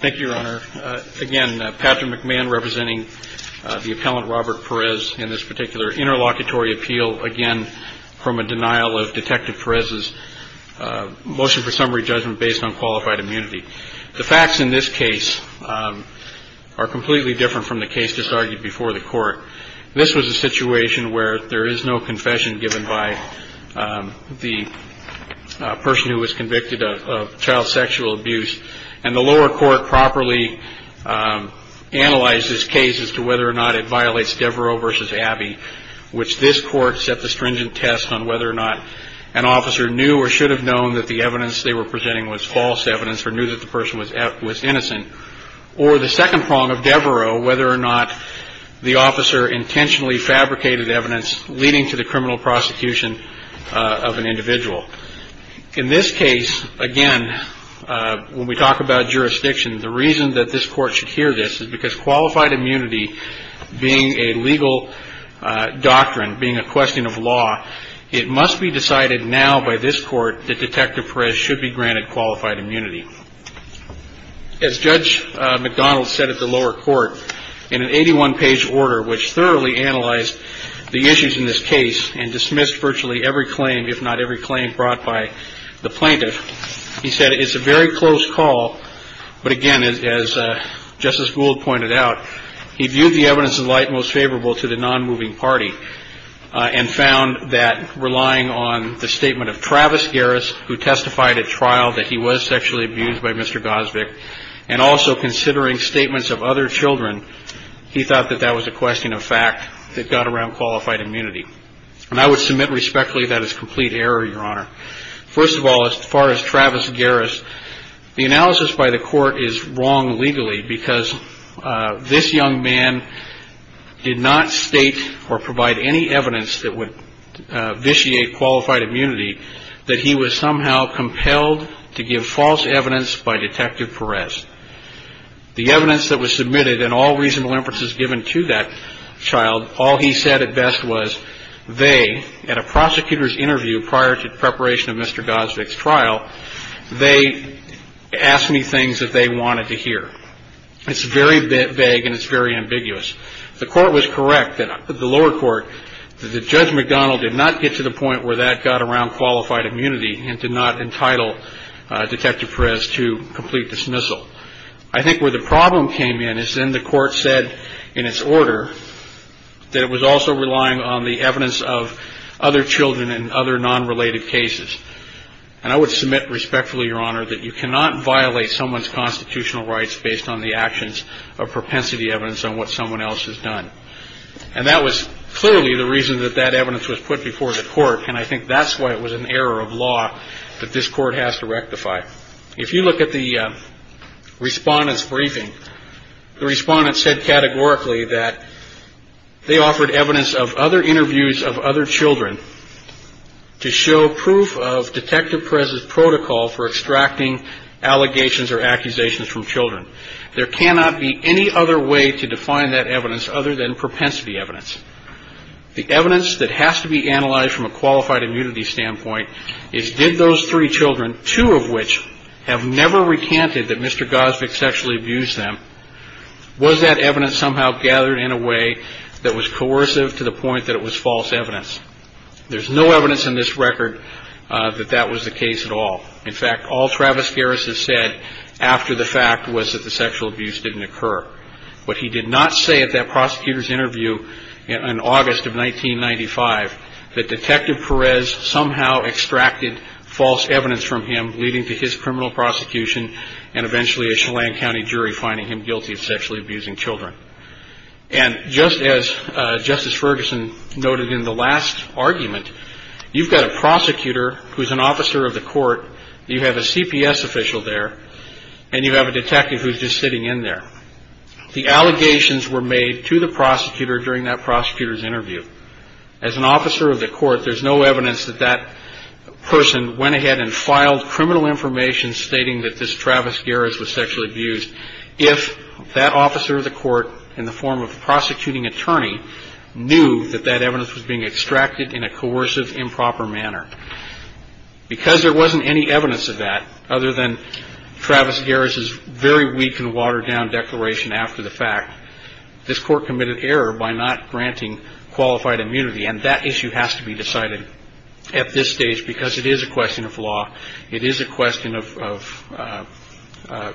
Thank you, Your Honor. Again, Patrick McMahon representing the appellant Robert Perez in this particular interlocutory appeal, again, from a denial of Detective Perez's motion for summary judgment based on qualified immunity. The facts in this case are completely different from the case disargued before the court. This was a situation where there is no confession given by the person who was convicted of child sexual abuse, and the lower court properly analyzed this case as to whether or not it violates Devereaux v. Abbey, which this court set the stringent test on whether or not an officer knew or should have known that the evidence they were presenting was false evidence or knew that the person was innocent, or the second prong of Devereaux, whether or not the officer intentionally fabricated evidence leading to the criminal prosecution of an individual. In this case, again, when we talk about jurisdiction, the reason that this court should hear this is because qualified immunity being a legal doctrine, being a question of law, it must be decided now by this court that Detective Perez should be granted qualified immunity. As Judge McDonald said at the lower court, in an 81-page order which thoroughly analyzed the issues in this case and dismissed virtually every claim, if not every claim brought by the plaintiff, he said it's a very close call, but again, as Justice Gould pointed out, he viewed the evidence in light most favorable to the nonmoving party and found that relying on the statement of Travis Garris, who testified at trial that he was sexually abused by Mr. Gosvick, and also considering statements of other children, he thought that that was a question of fact that got around qualified immunity. And I would submit respectfully that is complete error, Your Honor. First of all, as far as Travis Garris, the analysis by the court is wrong legally because this young man did not state or provide any evidence that would vitiate qualified immunity that he was somehow compelled to give false evidence by Detective Perez. The evidence that was submitted and all reasonable inferences given to that child, all he said at best was they, at a prosecutor's interview prior to preparation of Mr. Gosvick's trial, they asked me things that they wanted to hear. It's very vague and it's very ambiguous. The court was correct, the lower court, that Judge McDonald did not get to the point where that got around qualified immunity and did not entitle Detective Perez to complete dismissal. I think where the problem came in is then the court said in its order that it was also relying on the evidence of other children and other nonrelated cases. And I would submit respectfully, Your Honor, that you cannot violate someone's constitutional rights based on the actions of propensity evidence on what someone else has done. And that was clearly the reason that that evidence was put before the court, and I think that's why it was an error of law that this court has to rectify. If you look at the respondent's briefing, the respondent said categorically that they offered evidence of other interviews of other children to show proof of Detective Perez's protocol for extracting allegations or accusations from children. There cannot be any other way to define that evidence other than propensity evidence. The evidence that has to be analyzed from a qualified immunity standpoint is did those three children, two of which have never recanted that Mr. Gosvick sexually abused them, was that evidence somehow gathered in a way that was coercive to the point that it was false evidence? There's no evidence in this record that that was the case at all. In fact, all Travis Garris has said after the fact was that the sexual abuse didn't occur. But he did not say at that prosecutor's interview in August of 1995 that Detective Perez somehow extracted false evidence from him, leading to his criminal prosecution and eventually a Chelan County jury finding him guilty of sexually abusing children. And just as Justice Ferguson noted in the last argument, you've got a prosecutor who's an officer of the court. You have a CPS official there and you have a detective who's just sitting in there. The allegations were made to the prosecutor during that prosecutor's interview. As an officer of the court, there's no evidence that that person went ahead and filed criminal information stating that this Travis Garris was sexually abused. If that officer of the court in the form of a prosecuting attorney knew that that evidence was being extracted in a coercive, improper manner, because there wasn't any evidence of that other than Travis Garris' very weak and watered-down declaration after the fact, this court committed error by not granting qualified immunity. And that issue has to be decided at this stage because it is a question of law. It is a question of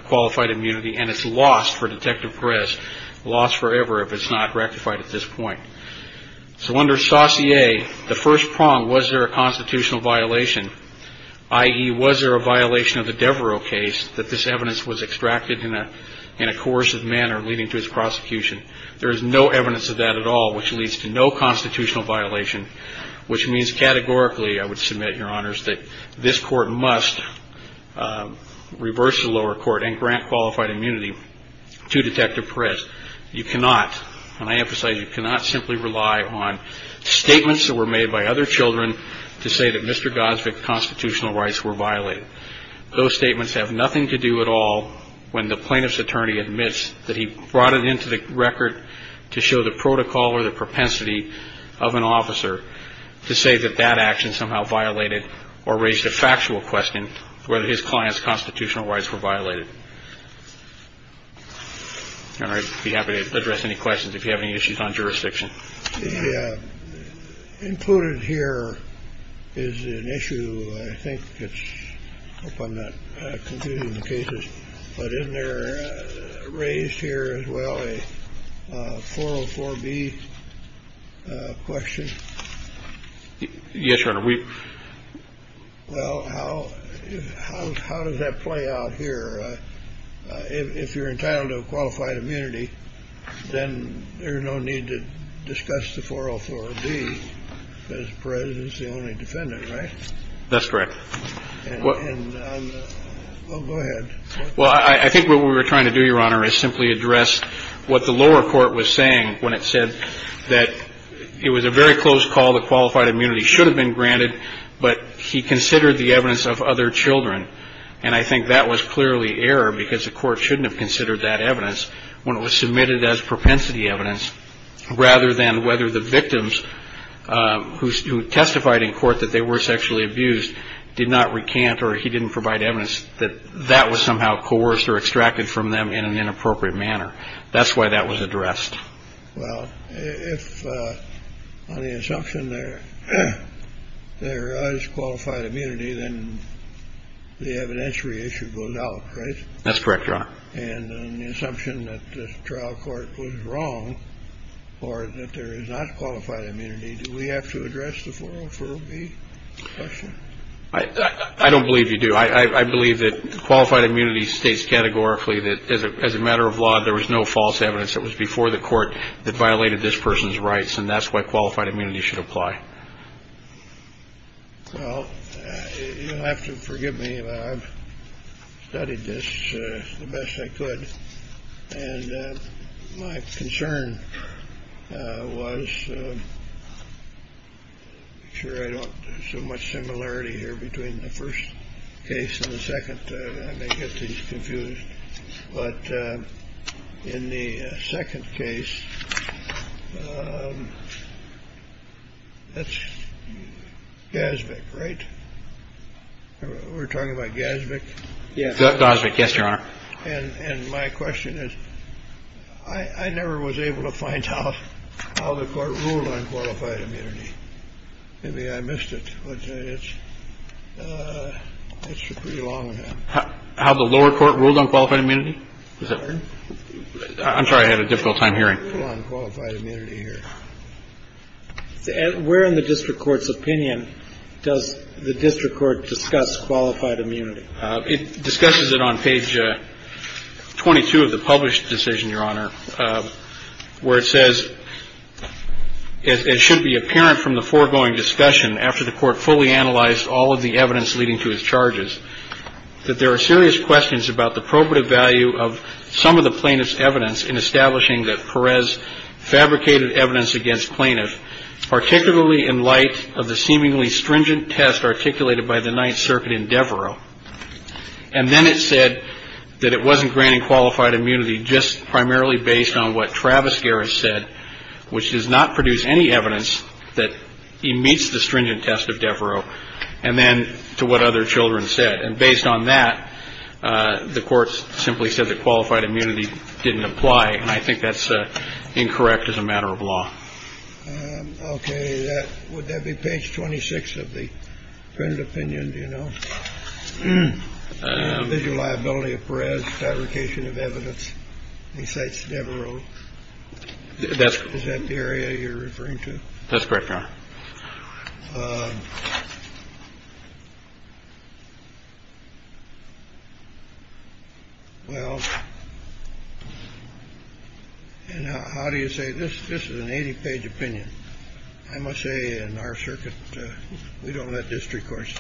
qualified immunity. And it's lost for Detective Perez, lost forever if it's not rectified at this point. So under Saussure, the first prong, was there a constitutional violation, i.e., was there a violation of the Devereux case that this evidence was extracted in a coercive manner leading to his prosecution? There is no evidence of that at all, which leads to no constitutional violation, which means categorically, I would submit, Your Honors, that this court must reverse the lower court and grant qualified immunity to Detective Perez. You cannot, and I emphasize, you cannot simply rely on statements that were made by other children to say that Mr. Gosvick's constitutional rights were violated. Those statements have nothing to do at all when the plaintiff's attorney admits that he brought it into the record to show the protocol or the propensity of an officer to say that that action somehow violated or raised a factual question whether his client's constitutional rights were violated. Your Honor, I'd be happy to address any questions if you have any issues on jurisdiction. Included here is an issue, I think, that's, I hope I'm not confusing the cases, but isn't there raised here as well a 404B question? Yes, Your Honor. Well, how does that play out here? If you're entitled to qualified immunity, then there's no need to discuss the 404B because Perez is the only defendant, right? That's correct. Well, go ahead. Well, I think what we were trying to do, Your Honor, is simply address what the lower court was saying when it said that it was a very close call that qualified immunity should have been granted, but he considered the evidence of other children, and I think that was clearly error because the court shouldn't have considered that evidence when it was submitted as propensity evidence, rather than whether the victims who testified in court that they were sexually abused did not recant or he didn't provide evidence that that was somehow coerced or extracted from them in an inappropriate manner. That's why that was addressed. Well, if on the assumption there is qualified immunity, then the evidentiary issue goes out, right? That's correct, Your Honor. And on the assumption that the trial court was wrong or that there is not qualified immunity, do we have to address the 404B question? I don't believe you do. I believe that qualified immunity states categorically that as a matter of law, there was no false evidence that was before the court that violated this person's rights, and that's why qualified immunity should apply. Well, you'll have to forgive me, but I've studied this the best I could, and my concern was to make sure I don't do so much similarity here between the first case and the second. I may get these confused, but in the second case, that's GASBIC, right? We're talking about GASBIC? GASBIC, yes, Your Honor. And my question is, I never was able to find out how the court ruled on qualified immunity. Maybe I missed it. How the lower court ruled on qualified immunity? I'm sorry. I had a difficult time hearing. Where in the district court's opinion does the district court discuss qualified immunity? It discusses it on page 22 of the published decision, Your Honor, where it says, It should be apparent from the foregoing discussion, after the court fully analyzed all of the evidence leading to his charges, that there are serious questions about the probative value of some of the plaintiff's evidence in establishing that Perez fabricated evidence against plaintiff, particularly in light of the seemingly stringent test articulated by the Ninth Circuit in Devereux. And then it said that it wasn't granting qualified immunity just primarily based on what Travis Garris said, which does not produce any evidence that he meets the stringent test of Devereux, and then to what other children said. And based on that, the court simply said that qualified immunity didn't apply, and I think that's incorrect as a matter of law. Okay. Would that be page 26 of the printed opinion, do you know? Individual liability of Perez fabrication of evidence besides Devereux. Is that the area you're referring to? That's correct, Your Honor. Well, and how do you say this? This is an 80-page opinion. I must say, in our circuit, we don't let district courts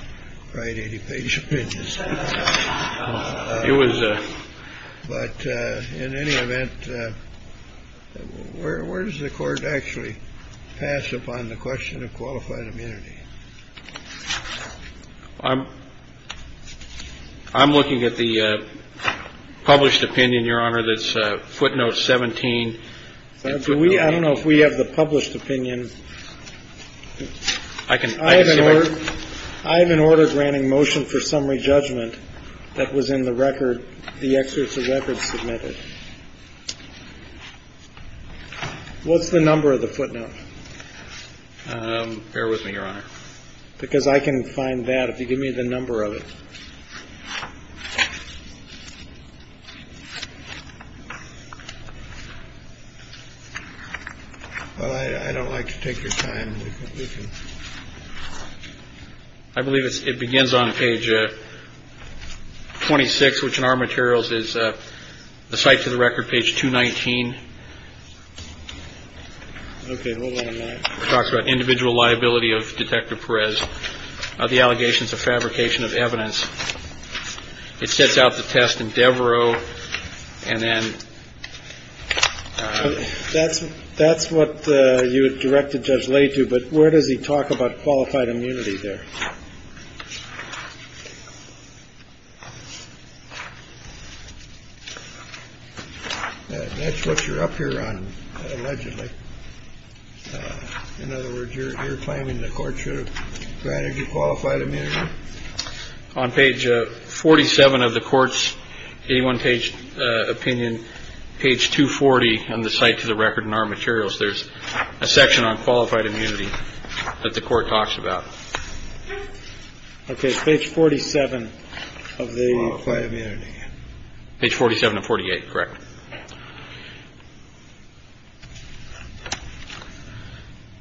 write 80-page opinions. It was a... But in any event, where does the court actually pass upon the question of qualified immunity? I'm looking at the published opinion, Your Honor, that's footnote 17. I don't know if we have the published opinion. I have an order granting motion for summary judgment that was in the record, the exercise record submitted. What's the number of the footnote? Bear with me, Your Honor. Because I can find that if you give me the number of it. I don't like to take your time. I believe it begins on page 26, which in our materials is the site to the record page to 19. OK. Hold on a minute. Talks about individual liability of Detective Perez. The allegations of fabrication of evidence. It sets out the test in Devereux. And then that's that's what you directed Judge Lay to. But where does he talk about qualified immunity there? That's what you're up here on, allegedly. In other words, you're claiming the court should have granted you qualified immunity. On page 47 of the court's 81 page opinion, page 240 on the site to the record in our materials, there's a section on qualified immunity that the court talks about page 47 of the page 47 to 48. Correct.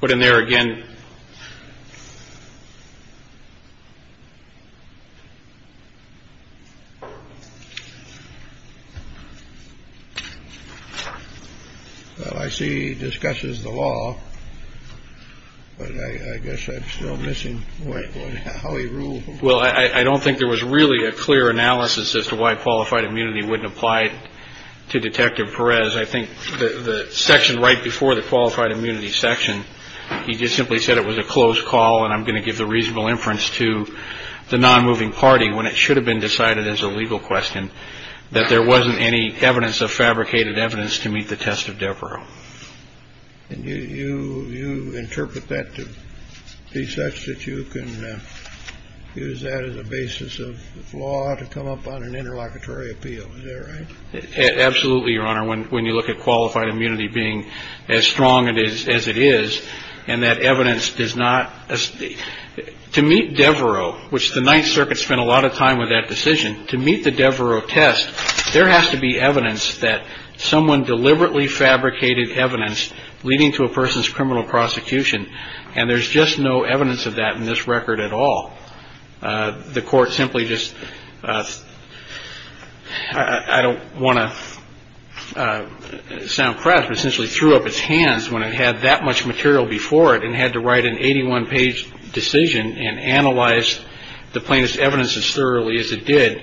But in there again. I see. Discusses the law. But I guess I'm still missing how he ruled. Well, I don't think there was really a clear analysis as to why qualified immunity wouldn't apply to Detective Perez. I think the section right before the qualified immunity section, he just simply said it was a closed call. And I'm going to give the reasonable inference to the non-moving party when it should have been decided as a legal question that there wasn't any evidence of fabricated evidence to meet the test of Devereux. You interpret that to be such that you can use that as a basis of law to come up on an interlocutory appeal. Absolutely. Your Honor, when you look at qualified immunity being as strong as it is and that evidence does not to meet Devereux, which the Ninth Circuit spent a lot of time with that decision to meet the Devereux test. There has to be evidence that someone deliberately fabricated evidence leading to a person's criminal prosecution. And there's just no evidence of that in this record at all. The court simply just I don't want to sound press, but essentially threw up its hands when it had that much material before it and had to write an 81 page decision and analyze the plaintiff's evidence as thoroughly as it did.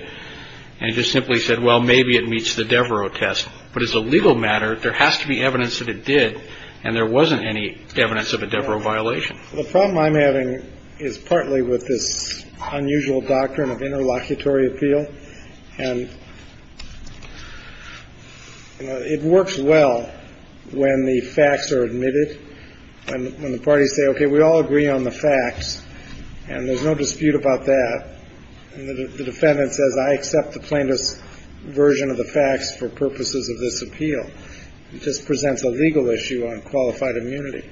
And it just simply said, well, maybe it meets the Devereux test. But as a legal matter, there has to be evidence that it did. And there wasn't any evidence of a Devereux violation. The problem I'm having is partly with this unusual doctrine of interlocutory appeal. And it works well when the facts are admitted and when the parties say, OK, we all agree on the facts and there's no dispute about that. And the defendant says, I accept the plaintiff's version of the facts for purposes of this appeal. It just presents a legal issue on qualified immunity.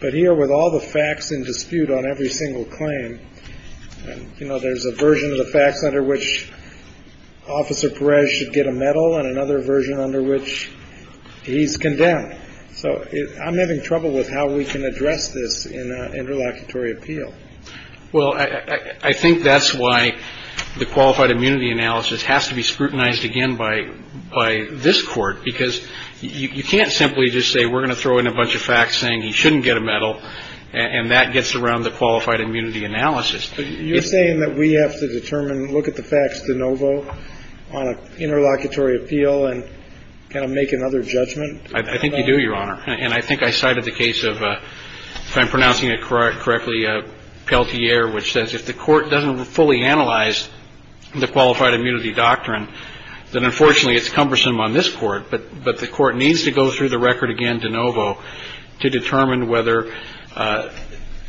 But here with all the facts in dispute on every single claim, you know, there's a version of the facts under which Officer Perez should get a medal and another version under which he's condemned. So I'm having trouble with how we can address this in interlocutory appeal. Well, I think that's why the qualified immunity analysis has to be scrutinized again by this Court, because you can't simply just say we're going to throw in a bunch of facts saying he shouldn't get a medal. And that gets around the qualified immunity analysis. But you're saying that we have to determine, look at the facts de novo on an interlocutory appeal and kind of make another judgment? I think you do, Your Honor. And I think I cited the case of, if I'm pronouncing it correctly, Pelletier, which says if the Court doesn't fully analyze the qualified immunity doctrine, then unfortunately it's cumbersome on this Court. But the Court needs to go through the record again de novo to determine whether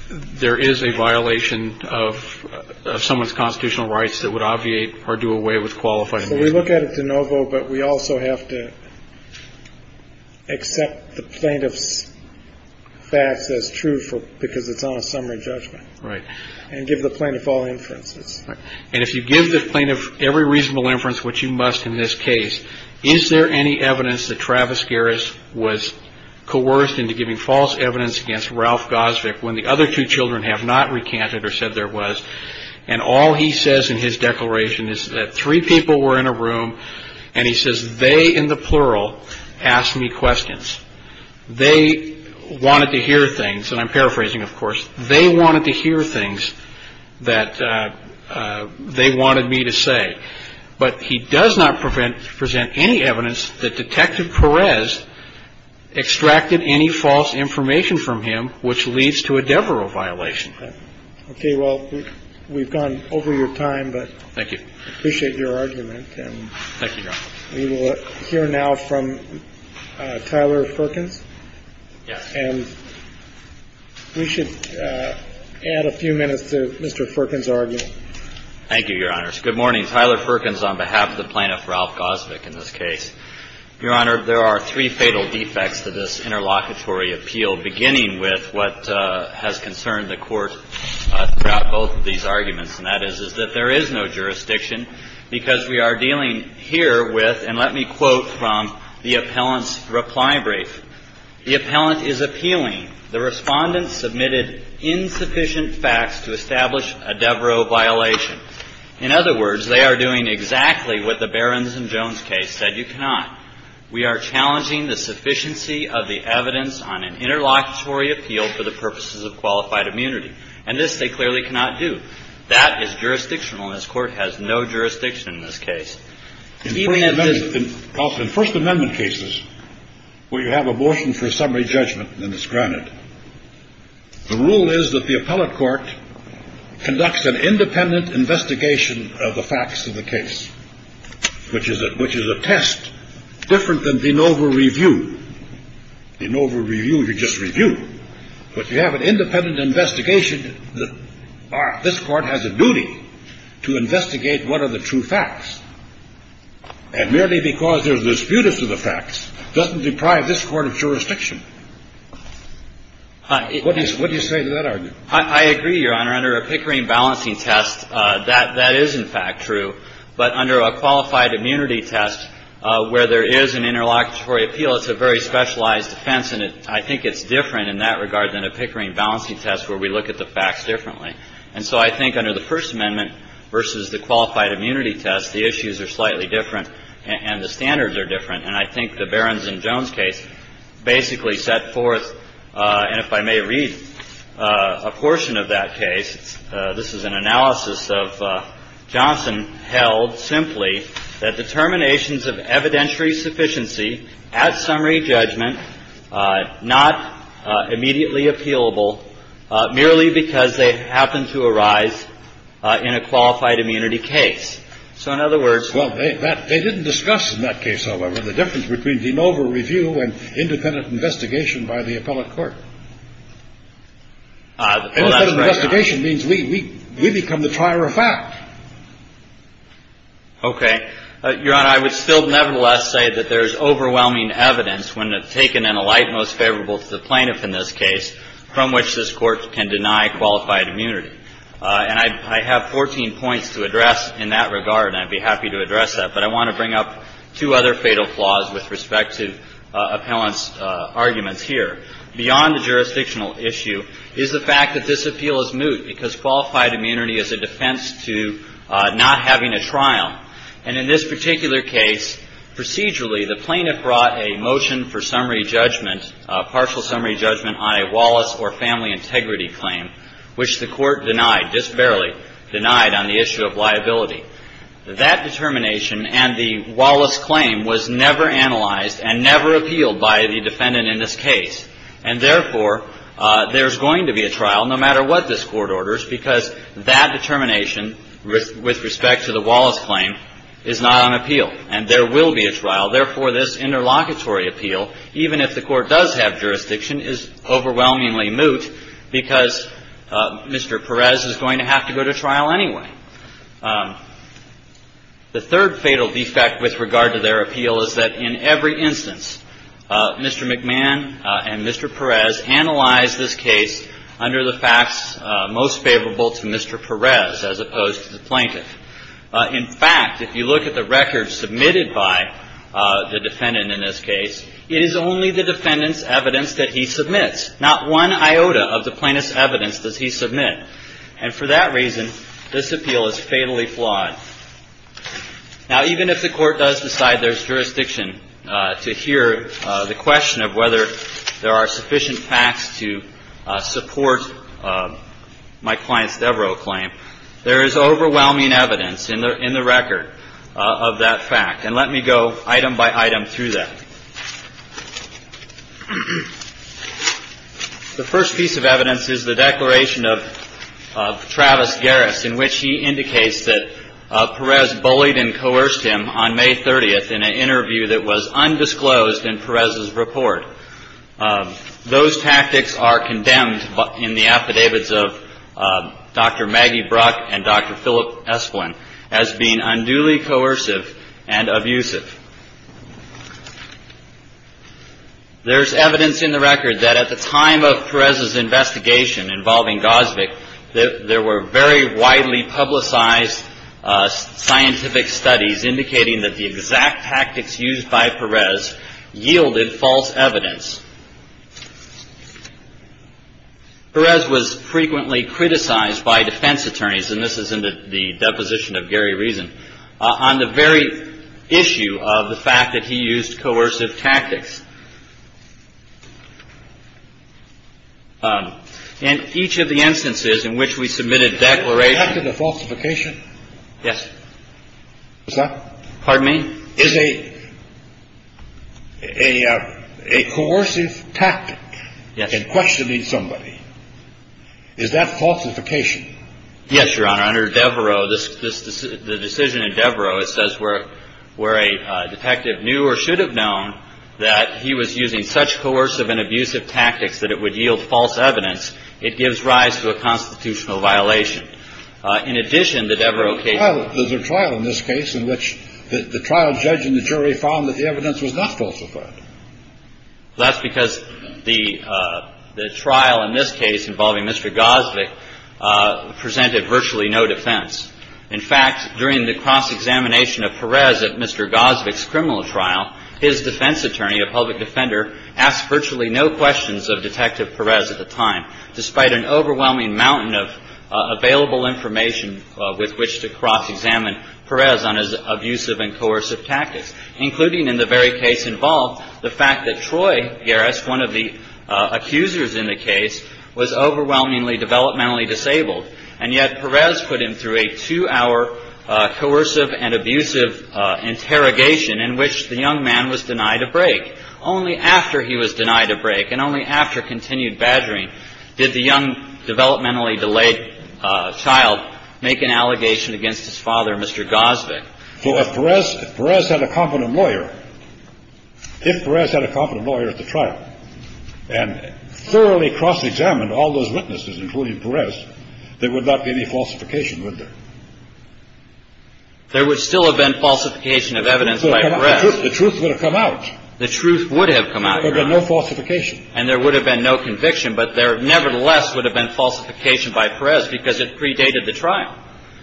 there is a violation of someone's constitutional rights that would obviate or do away with qualified immunity. So we look at it de novo, but we also have to accept the plaintiff's facts as true because it's on a summary judgment. Right. And give the plaintiff all inferences. And if you give the plaintiff every reasonable inference, which you must in this case, is there any evidence that Travis Garris was coerced into giving false evidence against Ralph Gosvick when the other two children have not recanted or said there was? And all he says in his declaration is that three people were in a room and he says they, in the plural, asked me questions. They wanted to hear things. And I'm paraphrasing, of course. They wanted to hear things that they wanted me to say. But he does not present any evidence that Detective Perez extracted any false information from him, which leads to a Devereux violation. Okay. Well, we've gone over your time, but I appreciate your argument. Thank you, Your Honor. We will hear now from Tyler Firkins. Yes. And we should add a few minutes to Mr. Firkins' argument. Thank you, Your Honors. Good morning. Tyler Firkins on behalf of the plaintiff, Ralph Gosvick, in this case. Your Honor, there are three fatal defects to this interlocutory appeal, beginning with what has concerned the Court throughout both of these arguments, and that is, is that there is no jurisdiction because we are dealing here with, and let me quote from the appellant's reply brief. The appellant is appealing. The Respondent submitted insufficient facts to establish a Devereux violation. In other words, they are doing exactly what the Barrons and Jones case said you cannot. We are challenging the sufficiency of the evidence on an interlocutory appeal for the purposes of qualified immunity. And this they clearly cannot do. That is jurisdictional, and this Court has no jurisdiction in this case. In First Amendment cases where you have abortion for summary judgment and it's granted, the rule is that the appellate court conducts an independent investigation of the facts of the case, which is a test different than de novo review. De novo review, you just review. But you have an independent investigation. This Court has a duty to investigate what are the true facts. And merely because they are disputants of the facts doesn't deprive this Court of jurisdiction. What do you say to that argument? I agree, Your Honor. Under a Pickering balancing test, that is, in fact, true. But under a qualified immunity test where there is an interlocutory appeal, it's a very specialized defense, and I think it's different in that regard than a Pickering balancing test where we look at the facts differently. And so I think under the First Amendment versus the qualified immunity test, the issues are slightly different and the standards are different. And I think the Barrons and Jones case basically set forth, and if I may read a portion of that case, this is an analysis of Johnson, held simply that determinations of evidentiary sufficiency at summary judgment not immediately appealable merely because they happen to arise in a qualified immunity case. So, in other words, Well, they didn't discuss in that case, however, the difference between de novo review and independent investigation by the appellate court. Independent investigation means we become the trier of fact. Okay. Your Honor, I would still nevertheless say that there is overwhelming evidence, when taken in a light most favorable to the plaintiff in this case, from which this Court can deny qualified immunity. And I have 14 points to address in that regard, and I'd be happy to address that. But I want to bring up two other fatal flaws with respect to appellant's arguments here. Beyond the jurisdictional issue is the fact that this appeal is moot because qualified immunity is a defense to not having a trial. And in this particular case, procedurally, the plaintiff brought a motion for summary judgment, partial summary judgment on a Wallace or family integrity claim, which the court denied, just barely denied on the issue of liability. That determination and the Wallace claim was never analyzed and never appealed by the defendant in this case. And therefore, there's going to be a trial, no matter what this Court orders, because that determination with respect to the Wallace claim is not on appeal. And there will be a trial. Therefore, this interlocutory appeal, even if the Court does have jurisdiction, is overwhelmingly moot because Mr. Perez is going to have to go to trial anyway. The third fatal defect with regard to their appeal is that in every instance, Mr. McMahon and Mr. Perez analyzed this case under the facts most favorable to Mr. Perez as opposed to the plaintiff. In fact, if you look at the records submitted by the defendant in this case, it is only the defendant's evidence that he submits. Not one iota of the plaintiff's evidence does he submit. And for that reason, this appeal is fatally flawed. Now, even if the Court does decide there's jurisdiction to hear the question of whether there are sufficient facts to support my client's Devereaux claim, there is overwhelming evidence in the record of that fact. And let me go item by item through that. The first piece of evidence is the declaration of Travis Garris, in which he indicates that Perez bullied and coerced him on May 30th in an interview that was undisclosed in Perez's report. Those tactics are condemned in the affidavits of Dr. Maggie Brock and Dr. Philip Esplin as being unduly coercive and abusive. There's evidence in the record that at the time of Perez's investigation involving Gosvick, there were very widely publicized scientific studies indicating that the exact tactics used by Perez yielded false evidence. Perez was frequently criticized by defense attorneys, and this is in the deposition of Gary Reason, on the very issue of the fact that he used coercive tactics. In each of the instances in which we submitted declarations. Is that to the falsification? Yes. Is that? Pardon me? Is a coercive tactic in questioning somebody, is that falsification? Yes, Your Honor. Under Devereaux, the decision in Devereaux, it says where a detective knew or should have known that he was using such coercive and abusive tactics that it would yield false evidence, it gives rise to a constitutional violation. In addition, the Devereaux case. There's a trial in this case in which the trial judge and the jury found that the evidence was not falsified. That's because the trial in this case involving Mr. Gosvick presented virtually no defense. In fact, during the cross-examination of Perez at Mr. Gosvick's criminal trial, his defense attorney, a public defender, asked virtually no questions of Detective Perez at the time, despite an overwhelming mountain of available information with which to cross-examine Perez on his abusive and coercive tactics, including in the very case involved the fact that Troy Garris, one of the accusers in the case, was overwhelmingly developmentally disabled. And yet Perez put him through a two-hour coercive and abusive interrogation in which the young man was denied a break. Only after he was denied a break and only after continued badgering did the young, developmentally delayed child make an allegation against his father, Mr. Gosvick. So if Perez had a competent lawyer, if Perez had a competent lawyer at the trial and thoroughly cross-examined all those witnesses, including Perez, there would not be any falsification, would there? There would still have been falsification of evidence by Perez. The truth would have come out. The truth would have come out. There would have been no falsification. And there would have been no conviction, but there nevertheless would have been falsification by Perez because it predated the trial.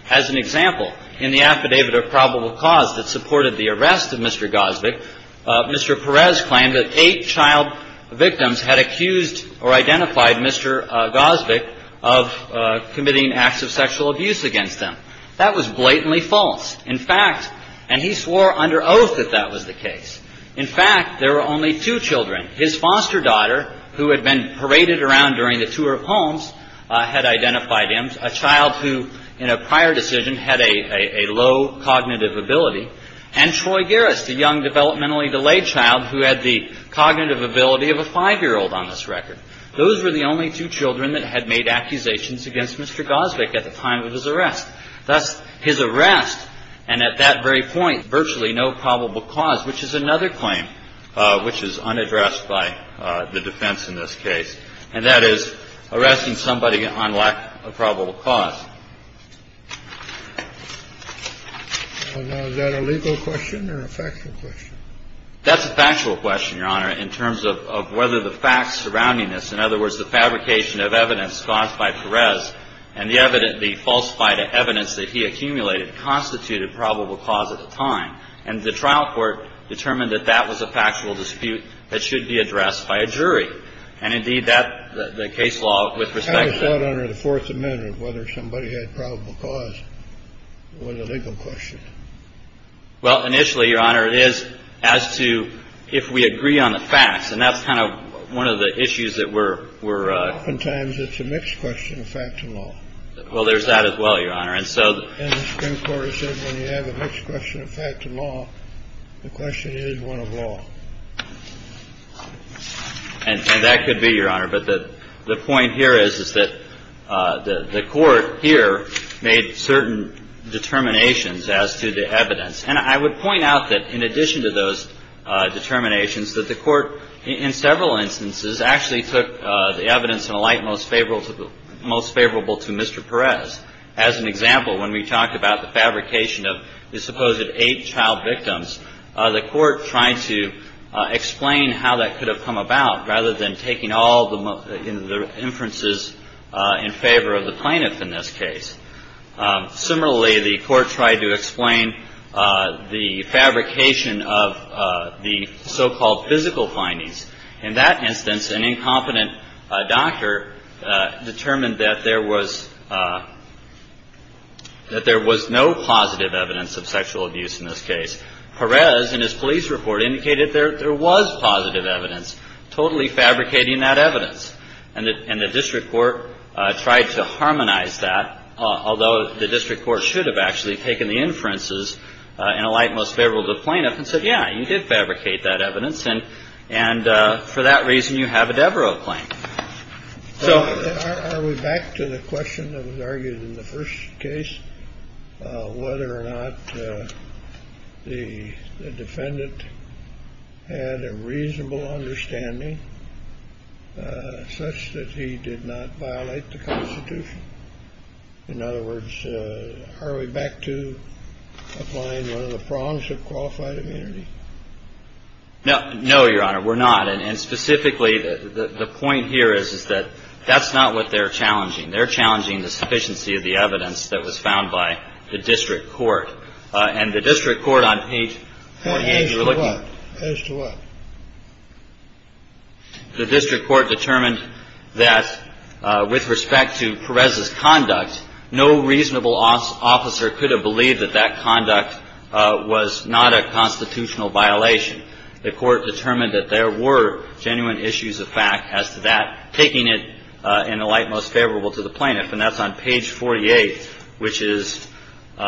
As an example, in the affidavit of probable cause that supported the arrest of Mr. Gosvick, Mr. Perez claimed that eight child victims had accused or identified Mr. Gosvick of committing acts of sexual abuse against them. That was blatantly false. In fact, and he swore under oath that that was the case, in fact, there were only two children. His foster daughter, who had been paraded around during the tour of homes, had identified him, and a child who in a prior decision had a low cognitive ability. And Troy Garris, the young developmentally delayed child who had the cognitive ability of a 5-year-old on this record. Those were the only two children that had made accusations against Mr. Gosvick at the time of his arrest. Thus, his arrest, and at that very point virtually no probable cause, which is another claim, which is unaddressed by the defense in this case, and that is arresting somebody on lack of probable cause. And is that a legal question or a factual question? That's a factual question, Your Honor, in terms of whether the facts surrounding this, in other words, the fabrication of evidence caused by Perez and the evidence, the falsified evidence that he accumulated, constituted probable cause at the time. And the trial court determined that that was a factual dispute that should be addressed by a jury. And, indeed, the case law with respect to that. I thought under the Fourth Amendment whether somebody had probable cause was a legal question. Well, initially, Your Honor, it is as to if we agree on the facts. And that's kind of one of the issues that we're – Oftentimes it's a mixed question of fact and law. Well, there's that as well, Your Honor. And the Supreme Court has said when you have a mixed question of fact and law, the question is one of law. And that could be, Your Honor. But the point here is that the court here made certain determinations as to the evidence. And I would point out that in addition to those determinations, that the court in several instances actually took the evidence in a light most favorable to Mr. Perez. As an example, when we talked about the fabrication of the supposed eight child victims, the court tried to explain how that could have come about rather than taking all the inferences in favor of the plaintiff in this case. Similarly, the court tried to explain the fabrication of the so-called physical findings. In that instance, an incompetent doctor determined that there was no positive evidence of sexual abuse in this case. Perez, in his police report, indicated there was positive evidence, totally fabricating that evidence. And the district court tried to harmonize that, although the district court should have actually taken the inferences in a light most favorable to the plaintiff and said, yeah, you did fabricate that evidence, and for that reason you have a Devereux claim. So are we back to the question that was argued in the first case, whether or not the defendant had a reasonable understanding such that he did not violate the Constitution? In other words, are we back to applying one of the prongs of qualified immunity? No. No, Your Honor, we're not. And specifically, the point here is, is that that's not what they're challenging. They're challenging the sufficiency of the evidence that was found by the district court. And the district court on page 48. As to what? The district court determined that with respect to Perez's conduct, no reasonable officer could have believed that that conduct was not a constitutional violation. The court determined that there were genuine issues of fact as to that, taking it in a light most favorable to the plaintiff. And that's on page 48, which is in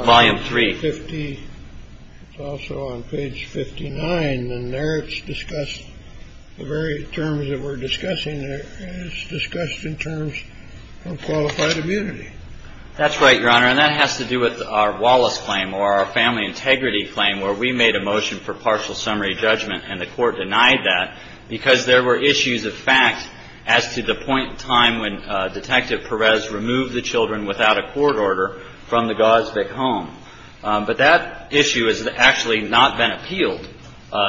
volume three. Also on page 59. And there it's discussed the very terms that we're discussing. It's discussed in terms of qualified immunity. That's right, Your Honor. And that has to do with our Wallace claim or our family integrity claim, where we made a motion for partial summary judgment and the court denied that because there were issues of fact as to the point in time when Detective Perez removed the children without a court order from the Gosvick home. But that issue has actually not been appealed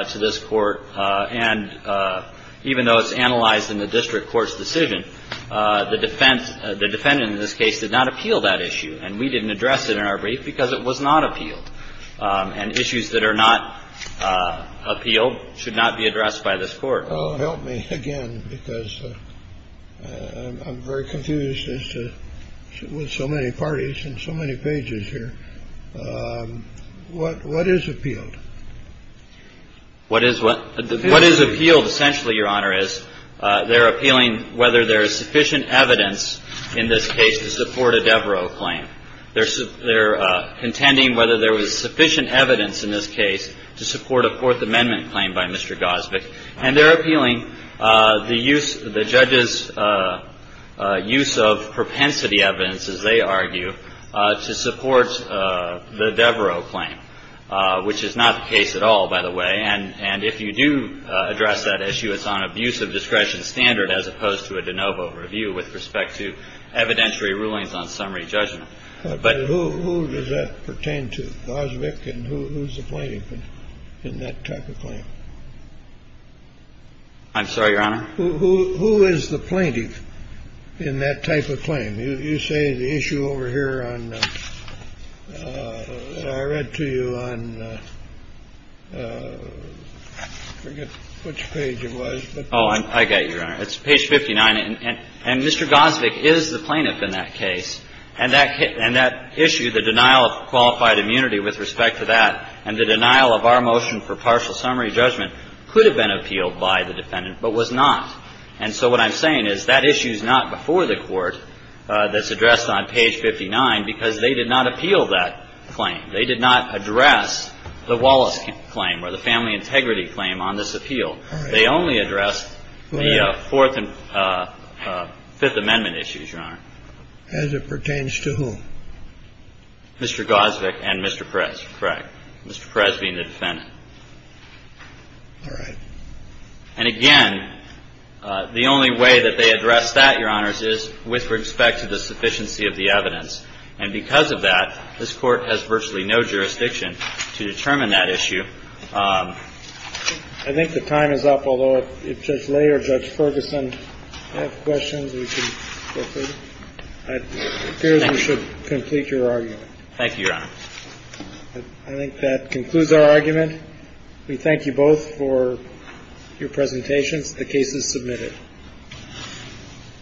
to this court. And even though it's analyzed in the district court's decision, the defense, the defendant in this case did not appeal that issue. And we didn't address it in our brief because it was not appealed. And issues that are not appealed should not be addressed by this court. Well, help me again, because I'm very confused as to, with so many parties and so many pages here, what is appealed? What is what? What is appealed essentially, Your Honor, is they're appealing whether there is sufficient evidence in this case to support a Devereaux claim. They're contending whether there was sufficient evidence in this case to support a Fourth Amendment claim by Mr. Gosvick. And they're appealing the use, the judge's use of propensity evidence, as they argue, to support the Devereaux claim, which is not the case at all, by the way. And if you do address that issue, it's on abusive discretion standard as opposed to a de novo review with respect to evidentiary rulings on summary judgment. But who does that pertain to, Gosvick? And who's the plaintiff in that type of claim? I'm sorry, Your Honor? Who is the plaintiff in that type of claim? You say the issue over here on the — I read to you on — I forget which page it was. Oh, I get you, Your Honor. It's page 59. And Mr. Gosvick is the plaintiff in that case. And that issue, the denial of qualified immunity with respect to that, and the denial of our motion for partial summary judgment could have been appealed by the defendant but was not. And so what I'm saying is that issue is not before the Court that's addressed on page 59 because they did not appeal that claim. They did not address the Wallace claim or the family integrity claim on this appeal. They only addressed the Fourth and Fifth Amendment issues, Your Honor. As it pertains to whom? Mr. Gosvick and Mr. Perez, correct. Mr. Perez being the defendant. All right. And again, the only way that they addressed that, Your Honors, is with respect to the sufficiency of the evidence. And because of that, this Court has virtually no jurisdiction to determine that issue. I think the time is up, although if Judge Lay or Judge Ferguson have questions, we can go through. It appears we should complete your argument. Thank you, Your Honor. I think that concludes our argument. We thank you both for your presentations. The case is submitted.